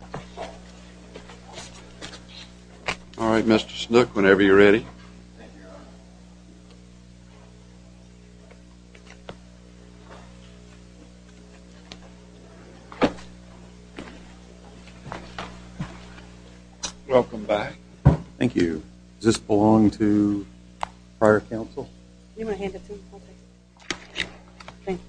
All right, Mr. Snook, whenever you're ready. Welcome back. Thank you. Does this belong to prior counsel? You want to hand it to him? I'll take it. Thank you.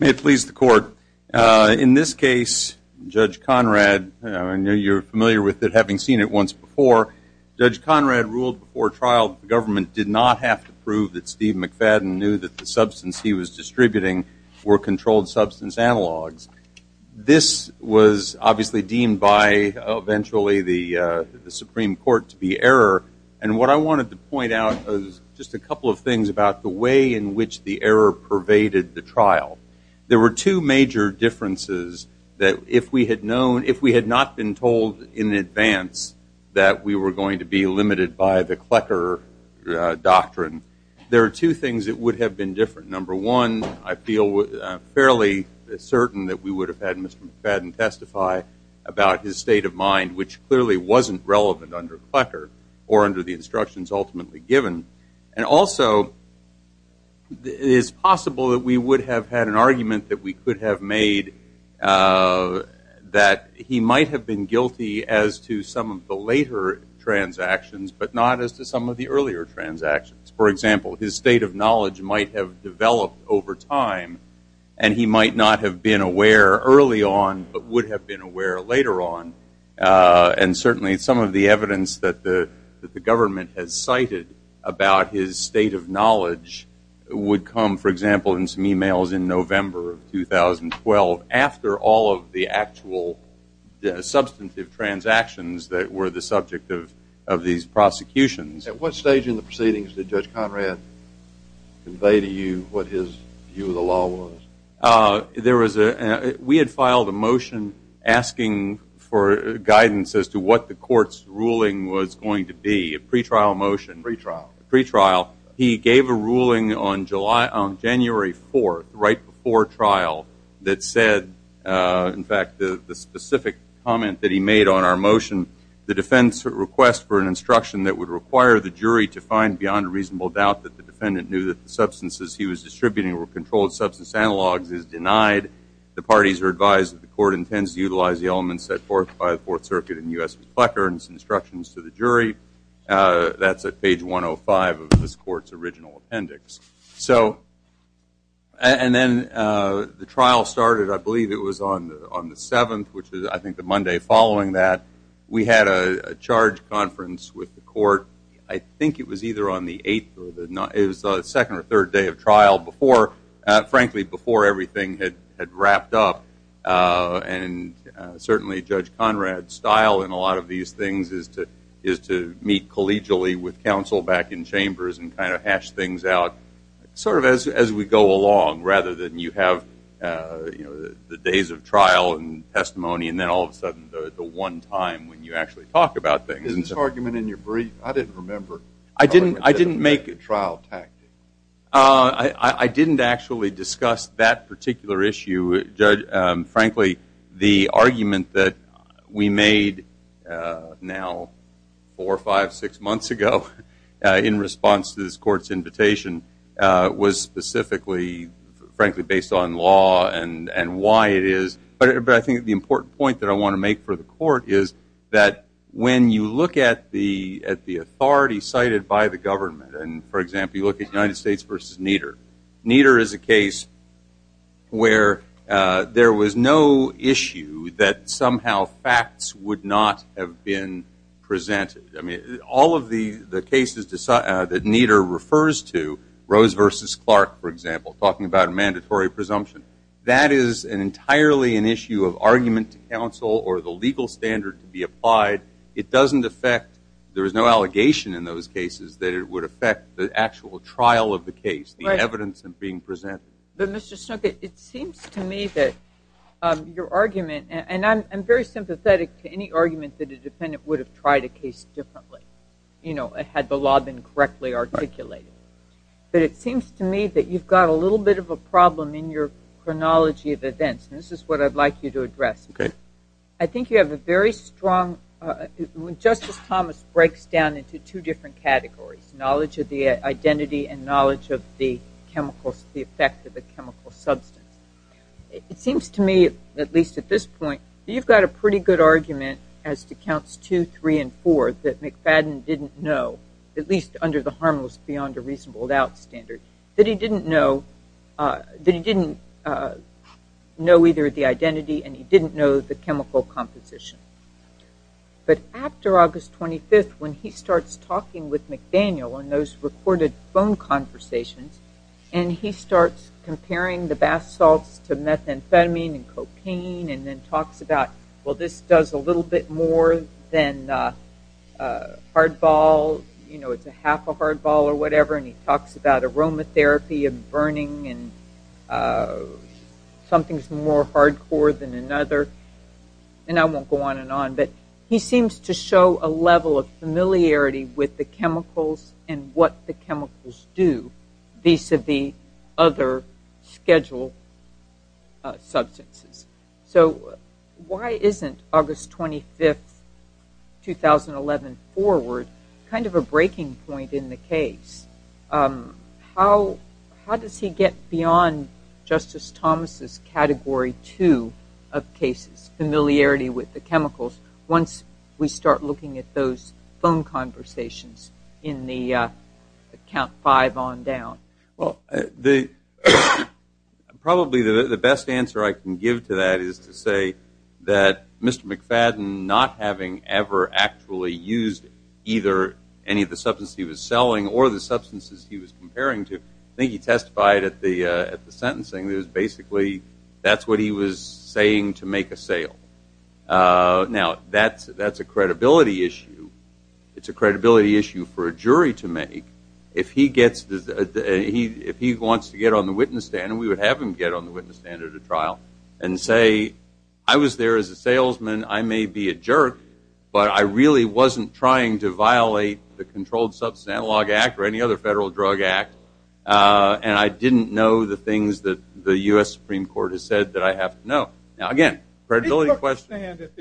May it please the court. In this case, Judge Conrad, I know you're familiar with it, having seen it once before, Judge Conrad ruled before trial that the government did not have to prove that Steve McFadden knew that the substance he was distributing were controlled substance analogs. This was obviously deemed by eventually the Supreme Court to be error. And what I wanted to point out was just a couple of things about the way in which the error pervaded the trial. There were two major differences that if we had not been told in advance that we were going to be limited by the evidence, we would have had Mr. McFadden testify about his state of mind, which clearly wasn't relevant under Clecker or under the instructions ultimately given. And also, it is possible that we would have had an argument that we could have made that he might have been guilty as to some of the later transactions, but not as to some of the earlier transactions. For example, his state of knowledge might have developed over time, and he might not have been aware early on, but would have been aware later on. And certainly, some of the evidence that the government has cited about his state of knowledge would come, for example, in some e-mails in November of 2012 after all of the actual substantive transactions that were the subject of these prosecutions. At what stage in the proceedings did Judge Conrad convey to you what his view of the law was? We had filed a motion asking for guidance as to what the court's ruling was going to be, a pre-trial motion. Pre-trial. Pre-trial. He gave a ruling on January 4th, right before trial, that said, in fact, the specific comment that he made on our motion, the defense requests for an instruction that would require the jury to find beyond reasonable doubt that the defendant knew that the substances he was distributing were controlled substance analogs is denied. The parties are advised that the court intends to utilize the elements set forth by the Fourth Circuit in U.S. v. Plecker and its instructions to the jury. That's at page 105 of this court's original appendix. So, and then the trial started, I believe it was on the 7th, which is I think the Monday following that. We had a charge conference with the court. I think it was either on the 8th or the 9th. It was the second or third day of trial before, frankly, before everything had wrapped up. And certainly Judge Conrad's style in a lot of these things is to meet collegially with counsel back in chambers and kind of hash things out sort of as we go along rather than you have the days of trial and testimony and then all of a sudden the one time when you actually talk about things. Is this argument in your brief? I didn't remember. I didn't make a trial tactic. I didn't actually discuss that particular issue, Judge. Frankly, the argument that we made now four, five, six months ago in response to this court's invitation was specifically, frankly, based on law and why it is. But I think the important point that I want to make for the court is that when you look at the authority cited by the government, and, for example, you look at the United States versus Nieder, Nieder is a case where there was no issue that somehow facts would not have been presented. I mean, all of the cases that Nieder refers to, Rose versus Clark, for example, talking about a mandatory presumption, that is entirely an issue of argument to counsel or the legal standard to be applied. It doesn't affect, there is no allegation in those cases that it would affect the actual trial of the case, the evidence being presented. But, Mr. Snookit, it seems to me that your argument, and I'm very sympathetic to any argument that a defendant would have tried a case differently, you know, had the law been correctly articulated. But it seems to me that you've got a little bit of a problem in your chronology of events, and this is what I'd like you to address. Okay. I think you have a very strong, just as Thomas breaks down into two different categories, knowledge of the identity and knowledge of the chemicals, the effect of a chemical substance. It seems to me, at least at this point, you've got a pretty good argument as to counts two, three, and four that McFadden didn't know, at least under the harmless beyond a reasonable doubt standard, that he didn't know either the identity and he didn't know the chemical composition. But after August 25th, when he starts talking with McDaniel in those recorded phone conversations, and he starts comparing the bath salts to methamphetamine and cocaine, and then talks about, well, this does a little bit more than hardball, you know, it's a half a hardball or whatever, and he talks about aromatherapy and burning and something's more hardcore than another, and I won't go on and on, but he seems to show a level of familiarity with the chemicals and what the chemicals do vis-à-vis other scheduled substances. So why isn't August 25th, 2011, forward kind of a breaking point in the case? How does he get beyond Justice Thomas' category two of cases, familiarity with the chemicals, once we start looking at those phone conversations in the count five on down? Well, probably the best answer I can give to that is to say that Mr. McFadden, not having ever actually used either any of the substances he was selling or the substances he was comparing to, I think he testified at the sentencing, that basically that's what he was saying to make a sale. Now, that's a credibility issue. It's a credibility issue for a jury to make. If he wants to get on the witness stand, we would have him get on the witness stand at a trial and say, I was there as a salesman, I may be a jerk, but I really wasn't trying to violate the Controlled Substance Analog Act or any other federal drug act, and I didn't know the things that the U.S. Supreme Court has said that I have to know. Now, again, credibility question. He took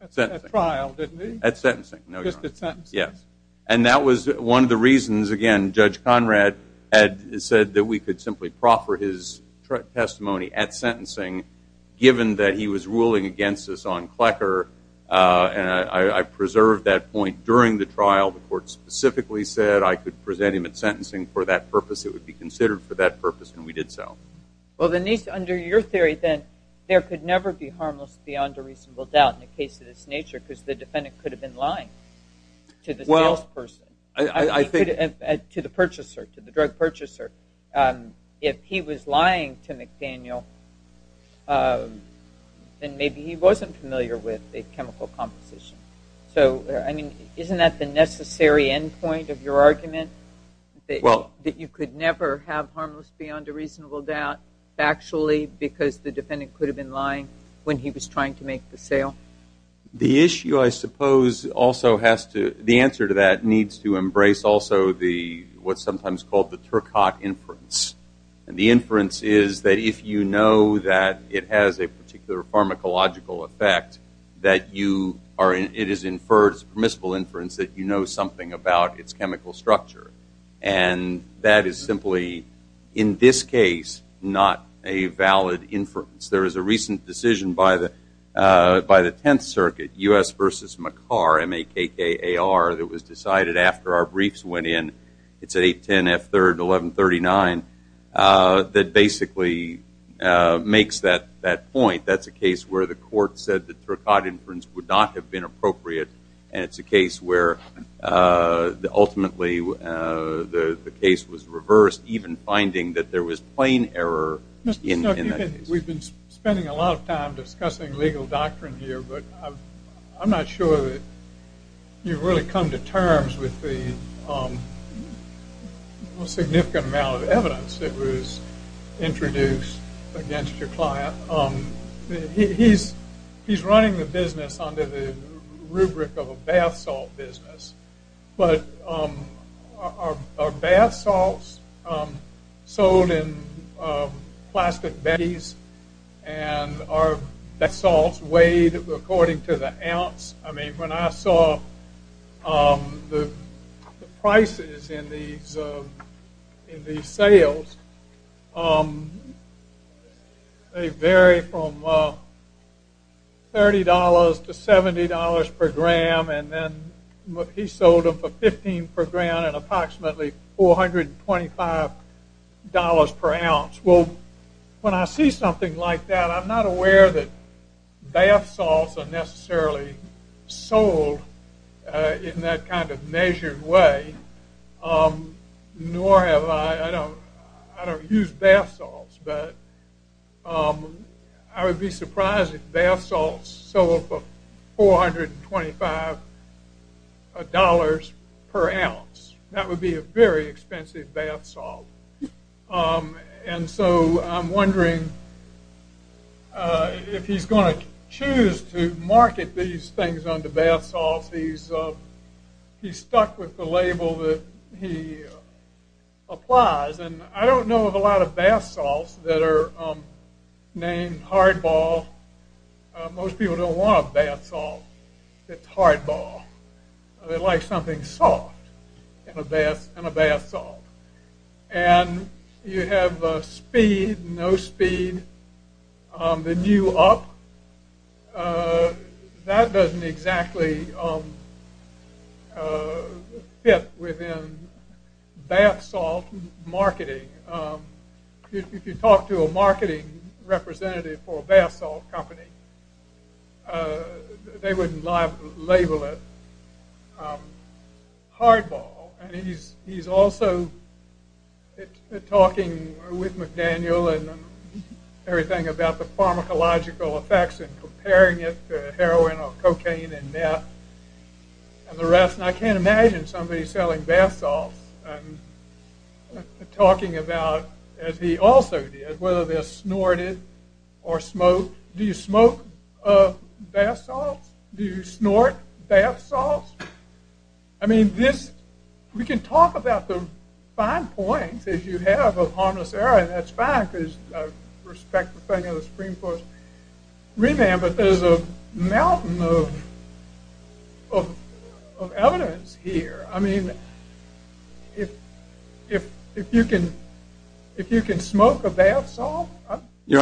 a stand at the trial, didn't he? At sentencing. No, he didn't. Just at sentencing. Yes. And that was one of the reasons, again, Judge Conrad had said that we could simply proffer his testimony at sentencing, given that he was ruling against us on Klecker, and I preserved that point during the trial. The court specifically said I could present him at sentencing for that purpose. It would be considered for that purpose, and we did so. Well, Denise, under your theory then, there could never be harmless beyond a reasonable doubt in a case of this nature because the defendant could have been lying to the salesperson, to the purchaser, to the drug purchaser. If he was lying to McDaniel, then maybe he wasn't familiar with the chemical composition. So, I mean, isn't that the necessary end point of your argument, that you could never have harmless beyond a reasonable doubt factually because the defendant could have been lying when he was trying to make the sale? The issue, I suppose, also has to – the answer to that needs to embrace also the – what's sometimes called the Turcotte inference. And the inference is that if you know that it has a particular pharmacological effect, that you are – it is inferred as permissible inference that you know something about its chemical structure. And that is simply, in this case, not a valid inference. There is a recent decision by the Tenth Circuit, U.S. v. McCarr, M-A-K-K-A-R, that was decided after our briefs went in. It's 8-10-F-3-11-39, that basically makes that point. That's a case where the court said the Turcotte inference would not have been appropriate. And it's a case where ultimately the case was reversed, even finding that there was plain error in that case. We've been spending a lot of time discussing legal doctrine here, but I'm not sure that you've really come to terms with the significant amount of evidence that was introduced against your client. He's running the business under the rubric of a bath salt business. But are bath salts sold in plastic bags? And are bath salts weighed according to the ounce? I mean, when I saw the prices in these sales, they vary from $30 to $70 per gram, and then he sold them for $15 per gram and approximately $425 per ounce. When I see something like that, I'm not aware that bath salts are necessarily sold in that kind of measured way, nor have I... I don't use bath salts, but I would be surprised if bath salts sold for $425 per ounce. That would be a very expensive bath salt. And so I'm wondering if he's going to choose to market these things under bath salts. He's stuck with the label that he applies, and I don't know of a lot of bath salts that are named hardball. Most people don't want a bath salt that's hardball. They like something soft in a bath salt. And you have speed, no speed, the new up. That doesn't exactly fit within bath salt marketing. If you talk to a marketing representative for a bath salt company, they wouldn't label it hardball. He's also talking with McDaniel and everything about the pharmacological effects and comparing it to heroin or cocaine and meth and the rest, and I can't imagine somebody selling bath salts and talking about, as he also did, whether they're snorted or smoked. Do you smoke bath salts? Do you snort bath salts? I mean, we can talk about the fine points, if you have, of harmless heroin. That's fine, because I respect the thing of the Supreme Court's remand, but there's a mountain of evidence here. I mean, if you can smoke a bath salt, I'd be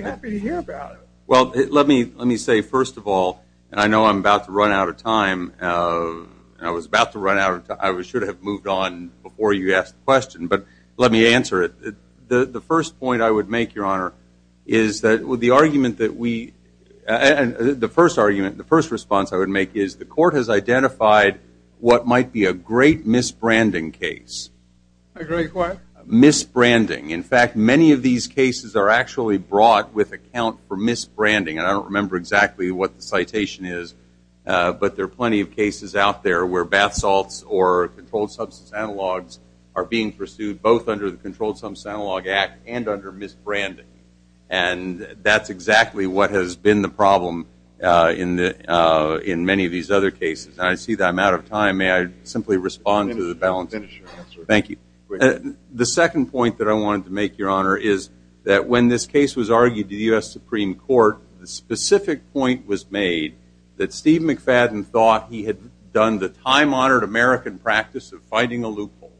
happy to hear about it. Well, let me say, first of all, and I know I'm about to run out of time. I was about to run out of time. I should have moved on before you asked the question, but let me answer it. The first point I would make, Your Honor, is that the argument that we – the first argument, the first response I would make, is the court has identified what might be a great misbranding case. A great what? Misbranding. In fact, many of these cases are actually brought with account for misbranding, and I don't remember exactly what the citation is, but there are plenty of cases out there where bath salts or controlled substance analogs are being pursued, both under the Controlled Substance Analog Act and under misbranding, and that's exactly what has been the problem in many of these other cases. I see that I'm out of time. May I simply respond to the balance? Yes, sir. Thank you. The second point that I wanted to make, Your Honor, is that when this case was argued to the U.S. Supreme Court, the specific point was made that Steve McFadden thought he had done the time-honored American practice of fighting a loophole,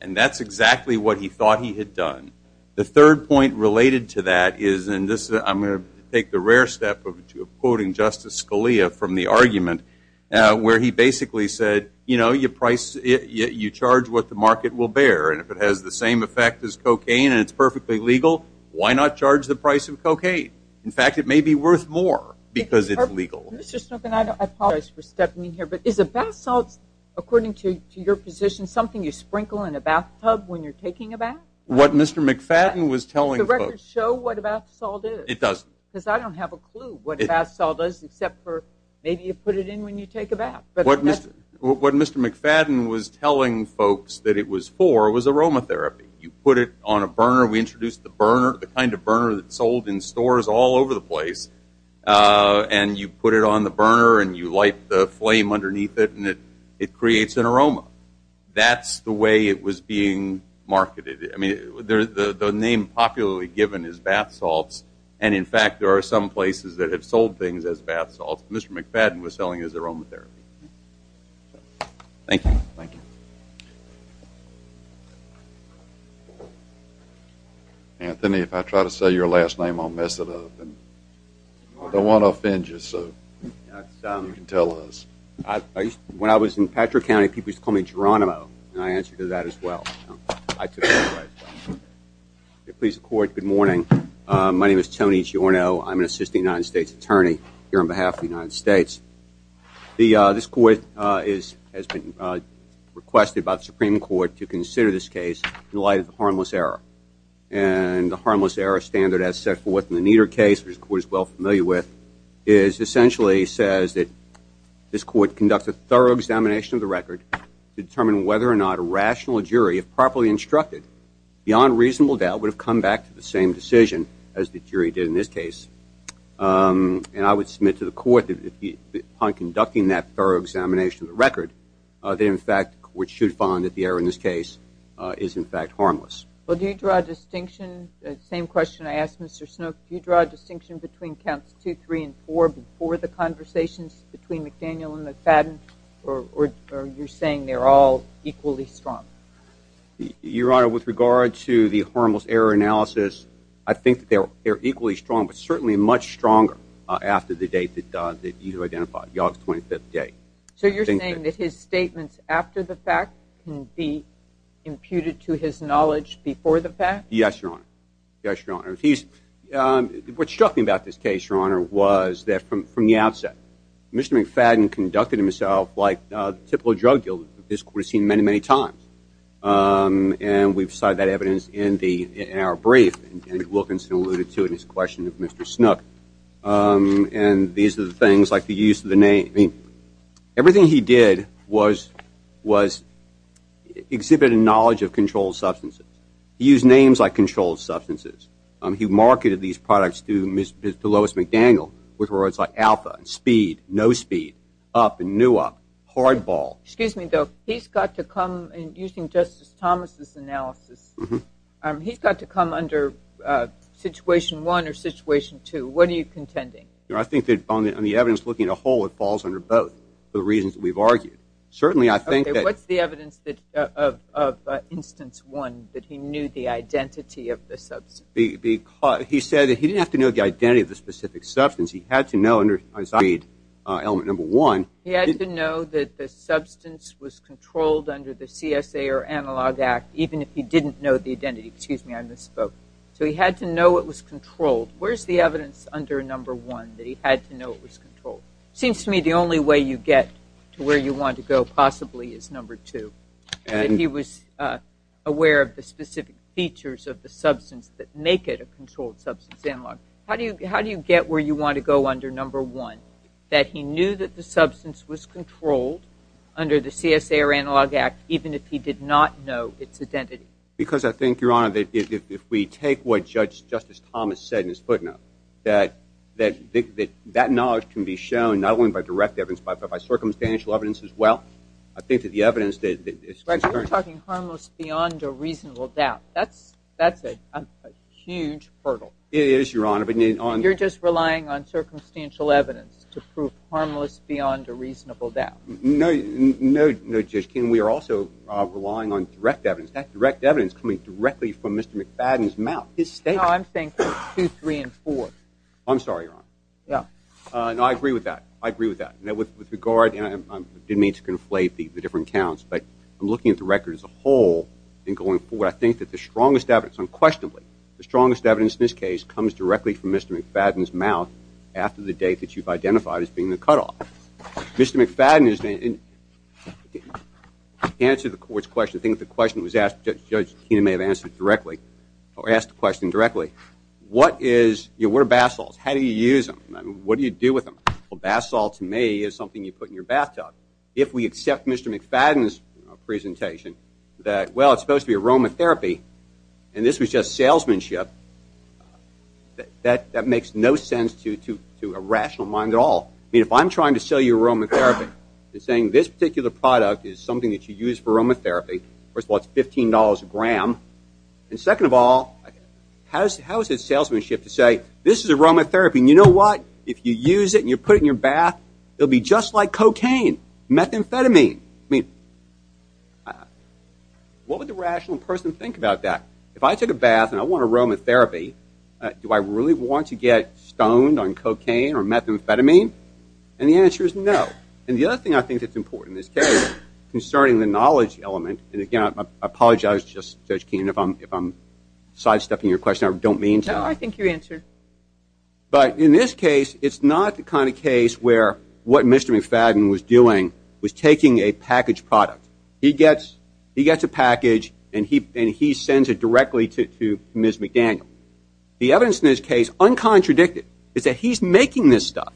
and that's exactly what he thought he had done. The third point related to that is, and I'm going to take the rare step of quoting Justice Scalia from the argument, where he basically said, you know, you charge what the market will bear, and if it has the same effect as cocaine and it's perfectly legal, why not charge the price of cocaine? In fact, it may be worth more because it's legal. Mr. Snookin, I apologize for stepping in here, but is a bath salt, according to your position, something you sprinkle in a bathtub when you're taking a bath? What Mr. McFadden was telling folks. Does the record show what a bath salt is? It does. Because I don't have a clue what a bath salt is except for maybe you put it in when you take a bath. What Mr. McFadden was telling folks that it was for was aromatherapy. You put it on a burner. We introduced the burner, the kind of burner that's sold in stores all over the place, and you put it on the burner and you light the flame underneath it and it creates an aroma. That's the way it was being marketed. The name popularly given is bath salts, and in fact there are some places that have sold things as bath salts. Mr. McFadden was selling it as aromatherapy. Thank you. Thank you. Anthony, if I try to say your last name, I'll mess it up. I don't want to offend you, so you can tell us. When I was in Patrick County, people used to call me Geronimo, and I answered to that as well. I took that as well. Please, the Court, good morning. My name is Tony Giorno. I'm an assistant United States attorney here on behalf of the United States. This Court has been requested by the Supreme Court to consider this case in light of the harmless error. The harmless error standard as set forth in the Nieder case, which the Court is well familiar with, essentially says that this Court conducts a thorough examination of the record to determine whether or not a rational jury, if properly instructed, beyond reasonable doubt would have come back to the same decision as the jury did in this case. I would submit to the Court that upon conducting that thorough examination of the record, the Court should find that the error in this case is, in fact, harmless. Do you draw a distinction? The same question I asked Mr. Snook. Do you draw a distinction between counts 2, 3, and 4 before the conversations between McDaniel and McFadden, or are you saying they're all equally strong? Your Honor, with regard to the harmless error analysis, I think they're equally strong, but certainly much stronger after the date that you identified, the August 25th date. So you're saying that his statements after the fact can be imputed to his knowledge before the fact? Yes, Your Honor. What struck me about this case, Your Honor, was that from the outset, Mr. McFadden conducted himself like the typical drug dealer that this Court has seen many, many times. And we've cited that evidence in our brief, and Wilkinson alluded to it in his question of Mr. Snook. And these are the things, like the use of the name. Everything he did was exhibit a knowledge of controlled substances. He used names like controlled substances. He marketed these products to Lois McDaniel with words like alpha, speed, no speed, up and new up, hardball. Excuse me, though. He's got to come, using Justice Thomas' analysis, he's got to come under situation 1 or situation 2. What are you contending? I think that on the evidence looking at a whole, it falls under both for the reasons that we've argued. Okay, what's the evidence of instance 1 that he knew the identity of the substance? He said that he didn't have to know the identity of the specific substance. He had to know under element number 1. He had to know that the substance was controlled under the CSA or Analog Act, even if he didn't know the identity. Excuse me, I misspoke. So he had to know it was controlled. Where's the evidence under number 1 that he had to know it was controlled? It seems to me the only way you get to where you want to go possibly is number 2. He was aware of the specific features of the substance that make it a controlled substance analog. How do you get where you want to go under number 1, that he knew that the substance was controlled under the CSA or Analog Act, even if he did not know its identity? Because I think, Your Honor, that if we take what Justice Thomas said in his footnote, that that knowledge can be shown not only by direct evidence but by circumstantial evidence as well. I think that the evidence that is concerned... But you're talking harmless beyond a reasonable doubt. That's a huge hurdle. It is, Your Honor, but... You're just relying on circumstantial evidence to prove harmless beyond a reasonable doubt. No, no, Judge King. We are also relying on direct evidence. No, I'm saying 2, 3, and 4. I'm sorry, Your Honor. Yeah. No, I agree with that. I agree with that. With regard, and I didn't mean to conflate the different counts, but I'm looking at the record as a whole and going forward. I think that the strongest evidence, unquestionably, the strongest evidence in this case comes directly from Mr. McFadden's mouth after the date that you've identified as being the cutoff. Mr. McFadden, in answer to the Court's question, I think the question was asked, Judge Keenan may have asked the question directly. What are bath salts? How do you use them? What do you do with them? Well, bath salt, to me, is something you put in your bathtub. If we accept Mr. McFadden's presentation that, well, it's supposed to be aromatherapy, and this was just salesmanship, that makes no sense to a rational mind at all. I mean, if I'm trying to sell you aromatherapy, and saying this particular product is something that you use for aromatherapy, first of all, it's $15 a gram, and second of all, how is it salesmanship to say, this is aromatherapy, and you know what, if you use it and you put it in your bath, it will be just like cocaine, methamphetamine. What would the rational person think about that? If I took a bath and I want aromatherapy, do I really want to get stoned on cocaine or methamphetamine? And the answer is no. And the other thing I think that's important in this case, concerning the knowledge element, and again, I apologize, Judge Keene, if I'm sidestepping your question. I don't mean to. No, I think you answered. But in this case, it's not the kind of case where what Mr. McFadden was doing was taking a packaged product. He gets a package, and he sends it directly to Ms. McDaniel. The evidence in this case, uncontradicted, is that he's making this stuff.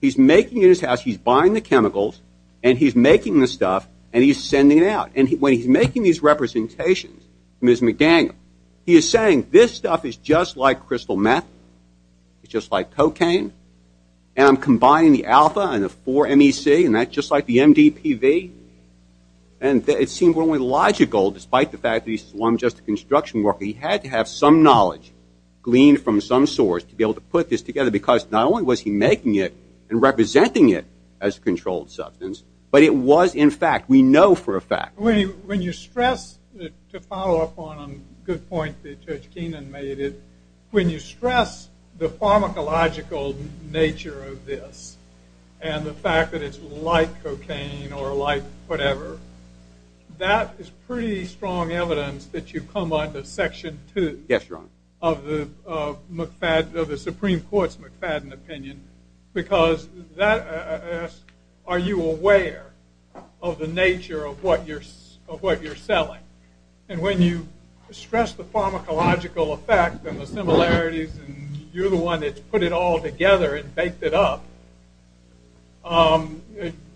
He's making it in his house. He's buying the chemicals, and he's making the stuff, and he's sending it out. And when he's making these representations to Ms. McDaniel, he is saying this stuff is just like crystal meth, it's just like cocaine, and I'm combining the alpha and the 4-MEC, and that's just like the MDPV. And it seemed only logical, despite the fact that he's just a construction worker. He had to have some knowledge gleaned from some source to be able to put this together, because not only was he making it and representing it as a controlled substance, but it was, in fact, we know for a fact. When you stress, to follow up on a good point that Judge Keenan made, when you stress the pharmacological nature of this and the fact that it's like cocaine or like whatever, that is pretty strong evidence that you've come on to Section 2 of the Supreme Court's McFadden opinion, because that asks, are you aware of the nature of what you're selling? And when you stress the pharmacological effect and the similarities, and you're the one that's put it all together and baked it up, a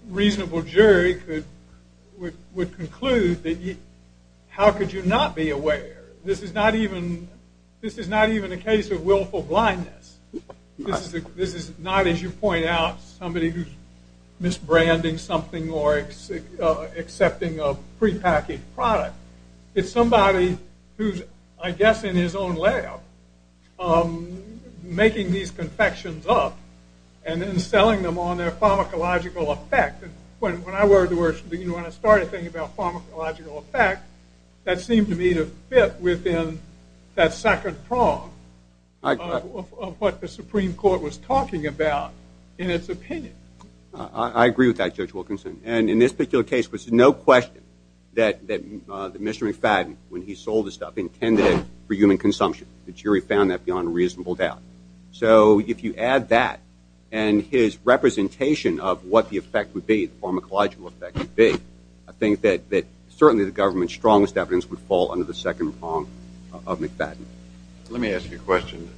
reasonable jury would conclude that how could you not be aware? This is not even a case of willful blindness. This is not, as you point out, somebody who's misbranding something or accepting a prepackaged product. It's somebody who's, I guess, in his own lab making these confections up and then selling them on their pharmacological effect. When I started thinking about pharmacological effect, that seemed to me to fit within that second prong of what the Supreme Court was talking about in its opinion. I agree with that, Judge Wilkinson. And in this particular case, there was no question that Mr. McFadden, when he sold the stuff, intended it for human consumption. The jury found that beyond a reasonable doubt. So if you add that and his representation of what the effect would be, the pharmacological effect would be, I think that certainly the government's strongest evidence would fall under the second prong of McFadden. Let me ask you a question.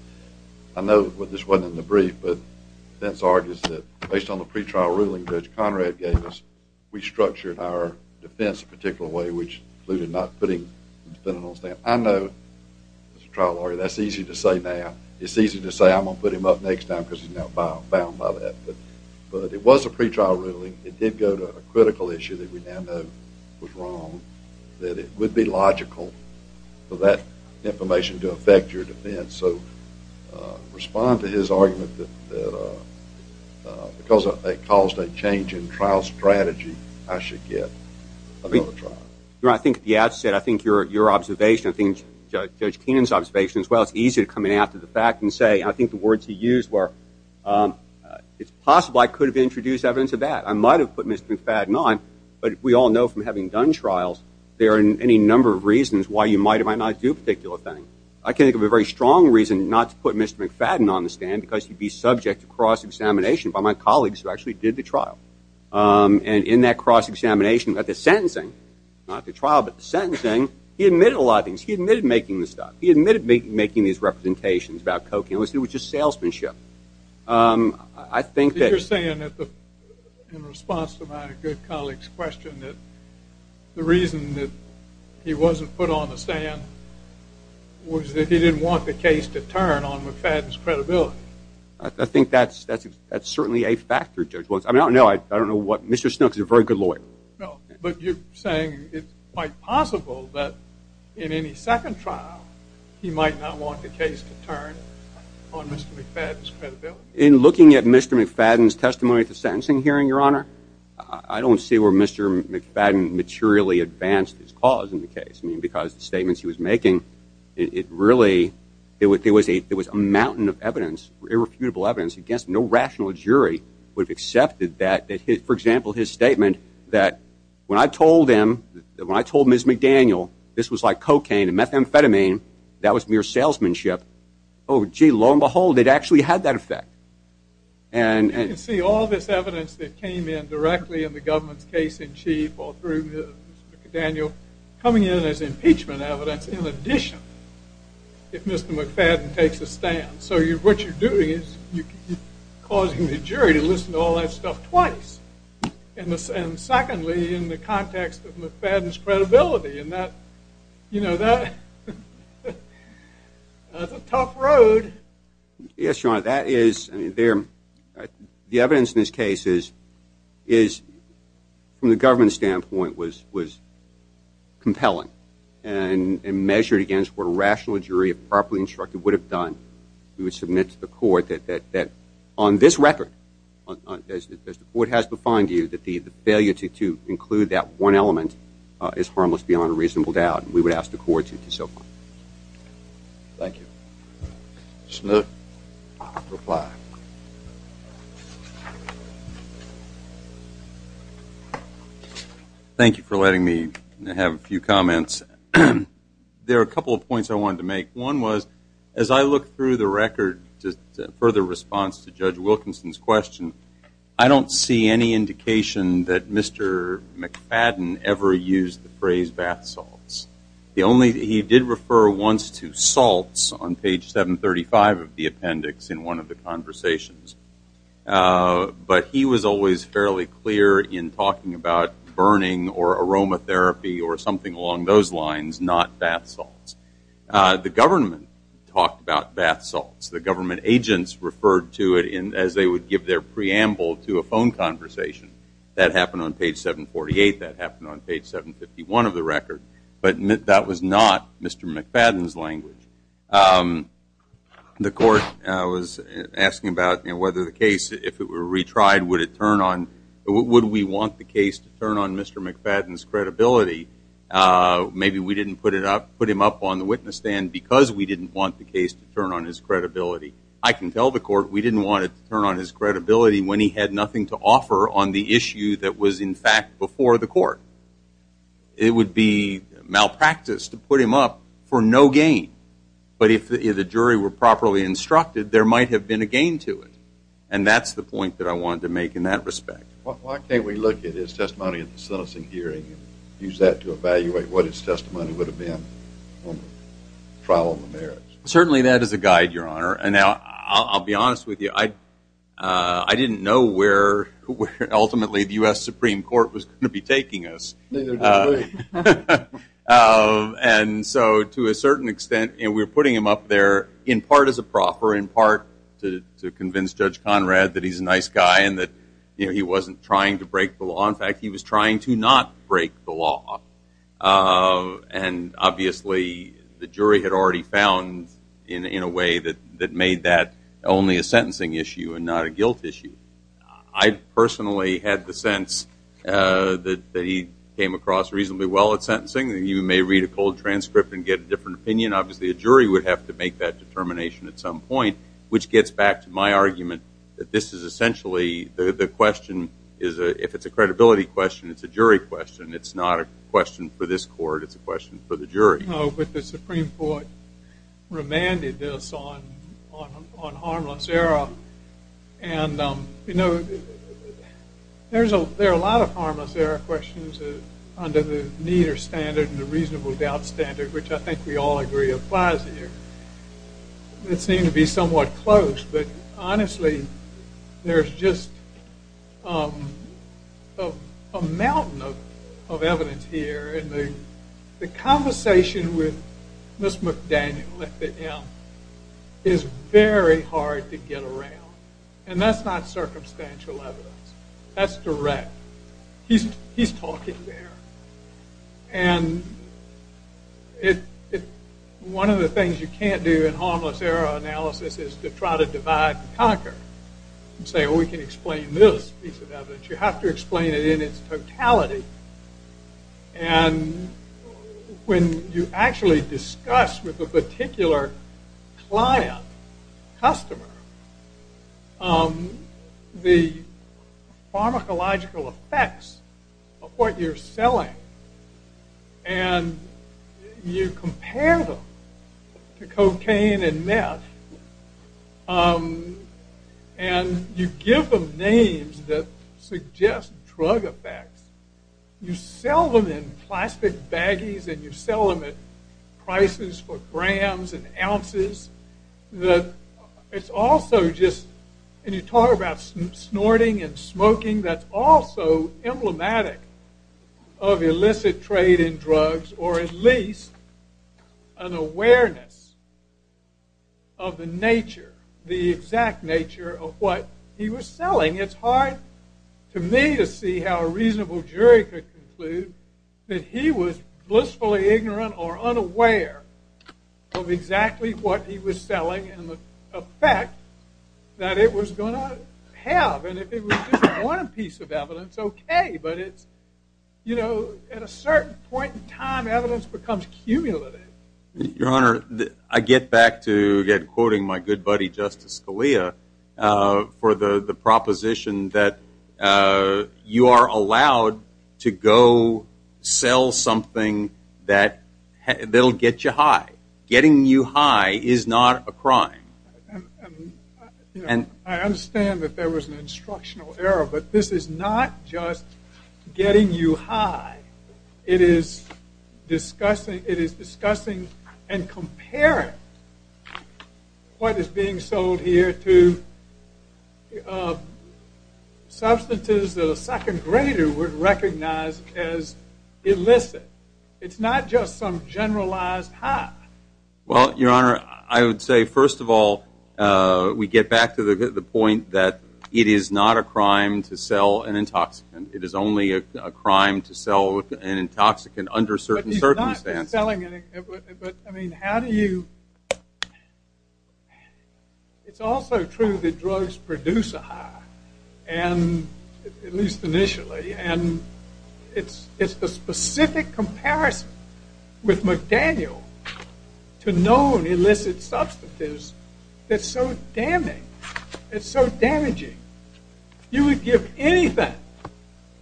I know this wasn't in the brief, but defense argues that based on the pretrial ruling Judge Conrad gave us, we structured our defense a particular way, which included not putting the defendant on stand. I know, as a trial lawyer, that's easy to say now. It's easy to say I'm going to put him up next time because he's now bound by that. But it was a pretrial ruling. It did go to a critical issue that we now know was wrong, that it would be logical for that information to affect your defense. So respond to his argument that because it caused a change in trial strategy, I should get another trial. I think at the outset, I think your observation, I think Judge Keenan's observation as well, it's easy to come in after the fact and say, and I think the words he used were, it's possible I could have introduced evidence of that. I might have put Mr. McFadden on, but we all know from having done trials, there are any number of reasons why you might or might not do a particular thing. I can think of a very strong reason not to put Mr. McFadden on the stand because he'd be subject to cross-examination by my colleagues who actually did the trial. And in that cross-examination at the sentencing, not at the trial, but the sentencing, he admitted a lot of things. He admitted making the stuff. He admitted making these representations about cocaine. It was just salesmanship. I think that… You're saying in response to my good colleague's question that the reason that he wasn't put on the stand was that he didn't want the case to turn on McFadden's credibility. I think that's certainly a factor, Judge. I don't know what Mr. Snooks is a very good lawyer. But you're saying it's quite possible that in any second trial, he might not want the case to turn on Mr. McFadden's credibility? In looking at Mr. McFadden's testimony at the sentencing hearing, Your Honor, I don't see where Mr. McFadden materially advanced his cause in the case. I mean, because the statements he was making, it really was a mountain of evidence, irrefutable evidence. I guess no rational jury would have accepted that. For example, his statement that when I told him, when I told Ms. McDaniel this was like cocaine and methamphetamine, that was mere salesmanship, oh, gee, lo and behold, it actually had that effect. You can see all this evidence that came in directly in the government's case in chief or through Ms. McDaniel coming in as impeachment evidence in addition if Mr. McFadden takes a stand. So what you're doing is you're causing the jury to listen to all that stuff twice. And secondly, in the context of McFadden's credibility, that's a tough road. Yes, Your Honor, that is. The evidence in this case is, from the government standpoint, was compelling and measured against what a rational jury, if properly instructed, would have done. We would submit to the court that on this record, as the court has defined to you, that the failure to include that one element is harmless beyond a reasonable doubt, and we would ask the court to do so. Thank you. Mr. Nook, reply. Thank you for letting me have a few comments. There are a couple of points I wanted to make. One was, as I look through the record for the response to Judge Wilkinson's question, I don't see any indication that Mr. McFadden ever used the phrase bath salts. He did refer once to salts on page 735 of the appendix in one of the conversations, but he was always fairly clear in talking about burning or aromatherapy or something along those lines, not bath salts. The government talked about bath salts. The government agents referred to it as they would give their preamble to a phone conversation. That happened on page 748. That happened on page 751 of the record. But that was not Mr. McFadden's language. The court was asking about whether the case, if it were retried, would it turn on, would we want the case to turn on Mr. McFadden's credibility? Maybe we didn't put him up on the witness stand because we didn't want the case to turn on his credibility. I can tell the court we didn't want it to turn on his credibility when he had nothing to offer on the issue that was, in fact, before the court. It would be malpractice to put him up for no gain. But if the jury were properly instructed, there might have been a gain to it. And that's the point that I wanted to make in that respect. Why can't we look at his testimony at the sentencing hearing and use that to evaluate what his testimony would have been on the trial of the merits? Certainly that is a guide, Your Honor. And I'll be honest with you, I didn't know where ultimately the U.S. Supreme Court was going to be taking us. Neither did we. And so to a certain extent, we were putting him up there in part as a proffer, in part to convince Judge Conrad that he's a nice guy and that he wasn't trying to break the law. In fact, he was trying to not break the law. And obviously the jury had already found in a way that made that only a sentencing issue and not a guilt issue. I personally had the sense that he came across reasonably well at sentencing. You may read a cold transcript and get a different opinion. Obviously a jury would have to make that determination at some point, which gets back to my argument that this is essentially the question, if it's a credibility question, it's a jury question. It's not a question for this court. It's a question for the jury. No, but the Supreme Court remanded this on harmless error. And, you know, there are a lot of harmless error questions under the neater standard and the reasonable doubt standard, which I think we all agree applies here. It seems to be somewhat close, but honestly there's just a mountain of evidence here. And the conversation with Ms. McDaniel at the end is very hard to get around. And that's not circumstantial evidence. That's direct. He's talking there. And one of the things you can't do in harmless error analysis is to try to divide and conquer and say, well, we can explain this piece of evidence. You have to explain it in its totality. And when you actually discuss with a particular client, customer, the pharmacological effects of what you're selling and you compare them to cocaine and meth and you give them names that suggest drug effects. You sell them in plastic baggies and you sell them at prices for grams and ounces. It's also just, and you talk about snorting and smoking, that's also emblematic of illicit trade in drugs or at least an awareness of the nature, the exact nature of what he was selling. It's hard to me to see how a reasonable jury could conclude that he was blissfully ignorant or unaware of exactly what he was selling and the effect that it was going to have. And if it was just one piece of evidence, okay. But at a certain point in time, evidence becomes cumulative. Your Honor, I get back to quoting my good buddy, Justice Scalia, for the proposition that you are allowed to go sell something that will get you high. Getting you high is not a crime. I understand that there was an instructional error, but this is not just getting you high. It is discussing and comparing what is being sold here to substances that a second grader would recognize as illicit. It's not just some generalized high. Well, Your Honor, I would say, first of all, we get back to the point that it is not a crime to sell an intoxicant. It is only a crime to sell an intoxicant under certain circumstances. But he's not selling it. But, I mean, how do you, it's also true that drugs produce a high, at least initially. And it's the specific comparison with McDaniel to known illicit substances that's so damaging. You would give anything,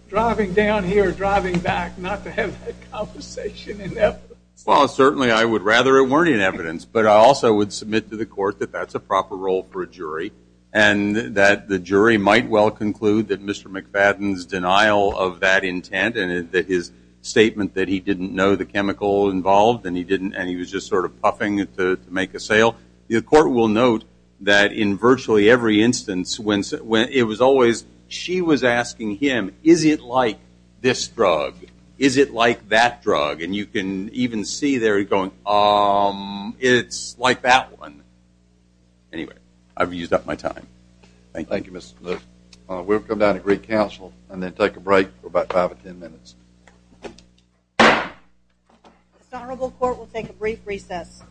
driving down here, driving back, not to have that conversation in evidence. Well, certainly I would rather it weren't in evidence. But I also would submit to the Court that that's a proper role for a jury. And that the jury might well conclude that Mr. McFadden's denial of that intent, and that his statement that he didn't know the chemical involved, and he was just sort of puffing to make a sale. The Court will note that in virtually every instance, it was always she was asking him, is it like this drug? Is it like that drug? And you can even see there going, it's like that one. Anyway, I've used up my time. Thank you, Mr. Lewis. We'll come down to Greek Council and then take a break for about five or ten minutes. The Honorable Court will take a brief recess.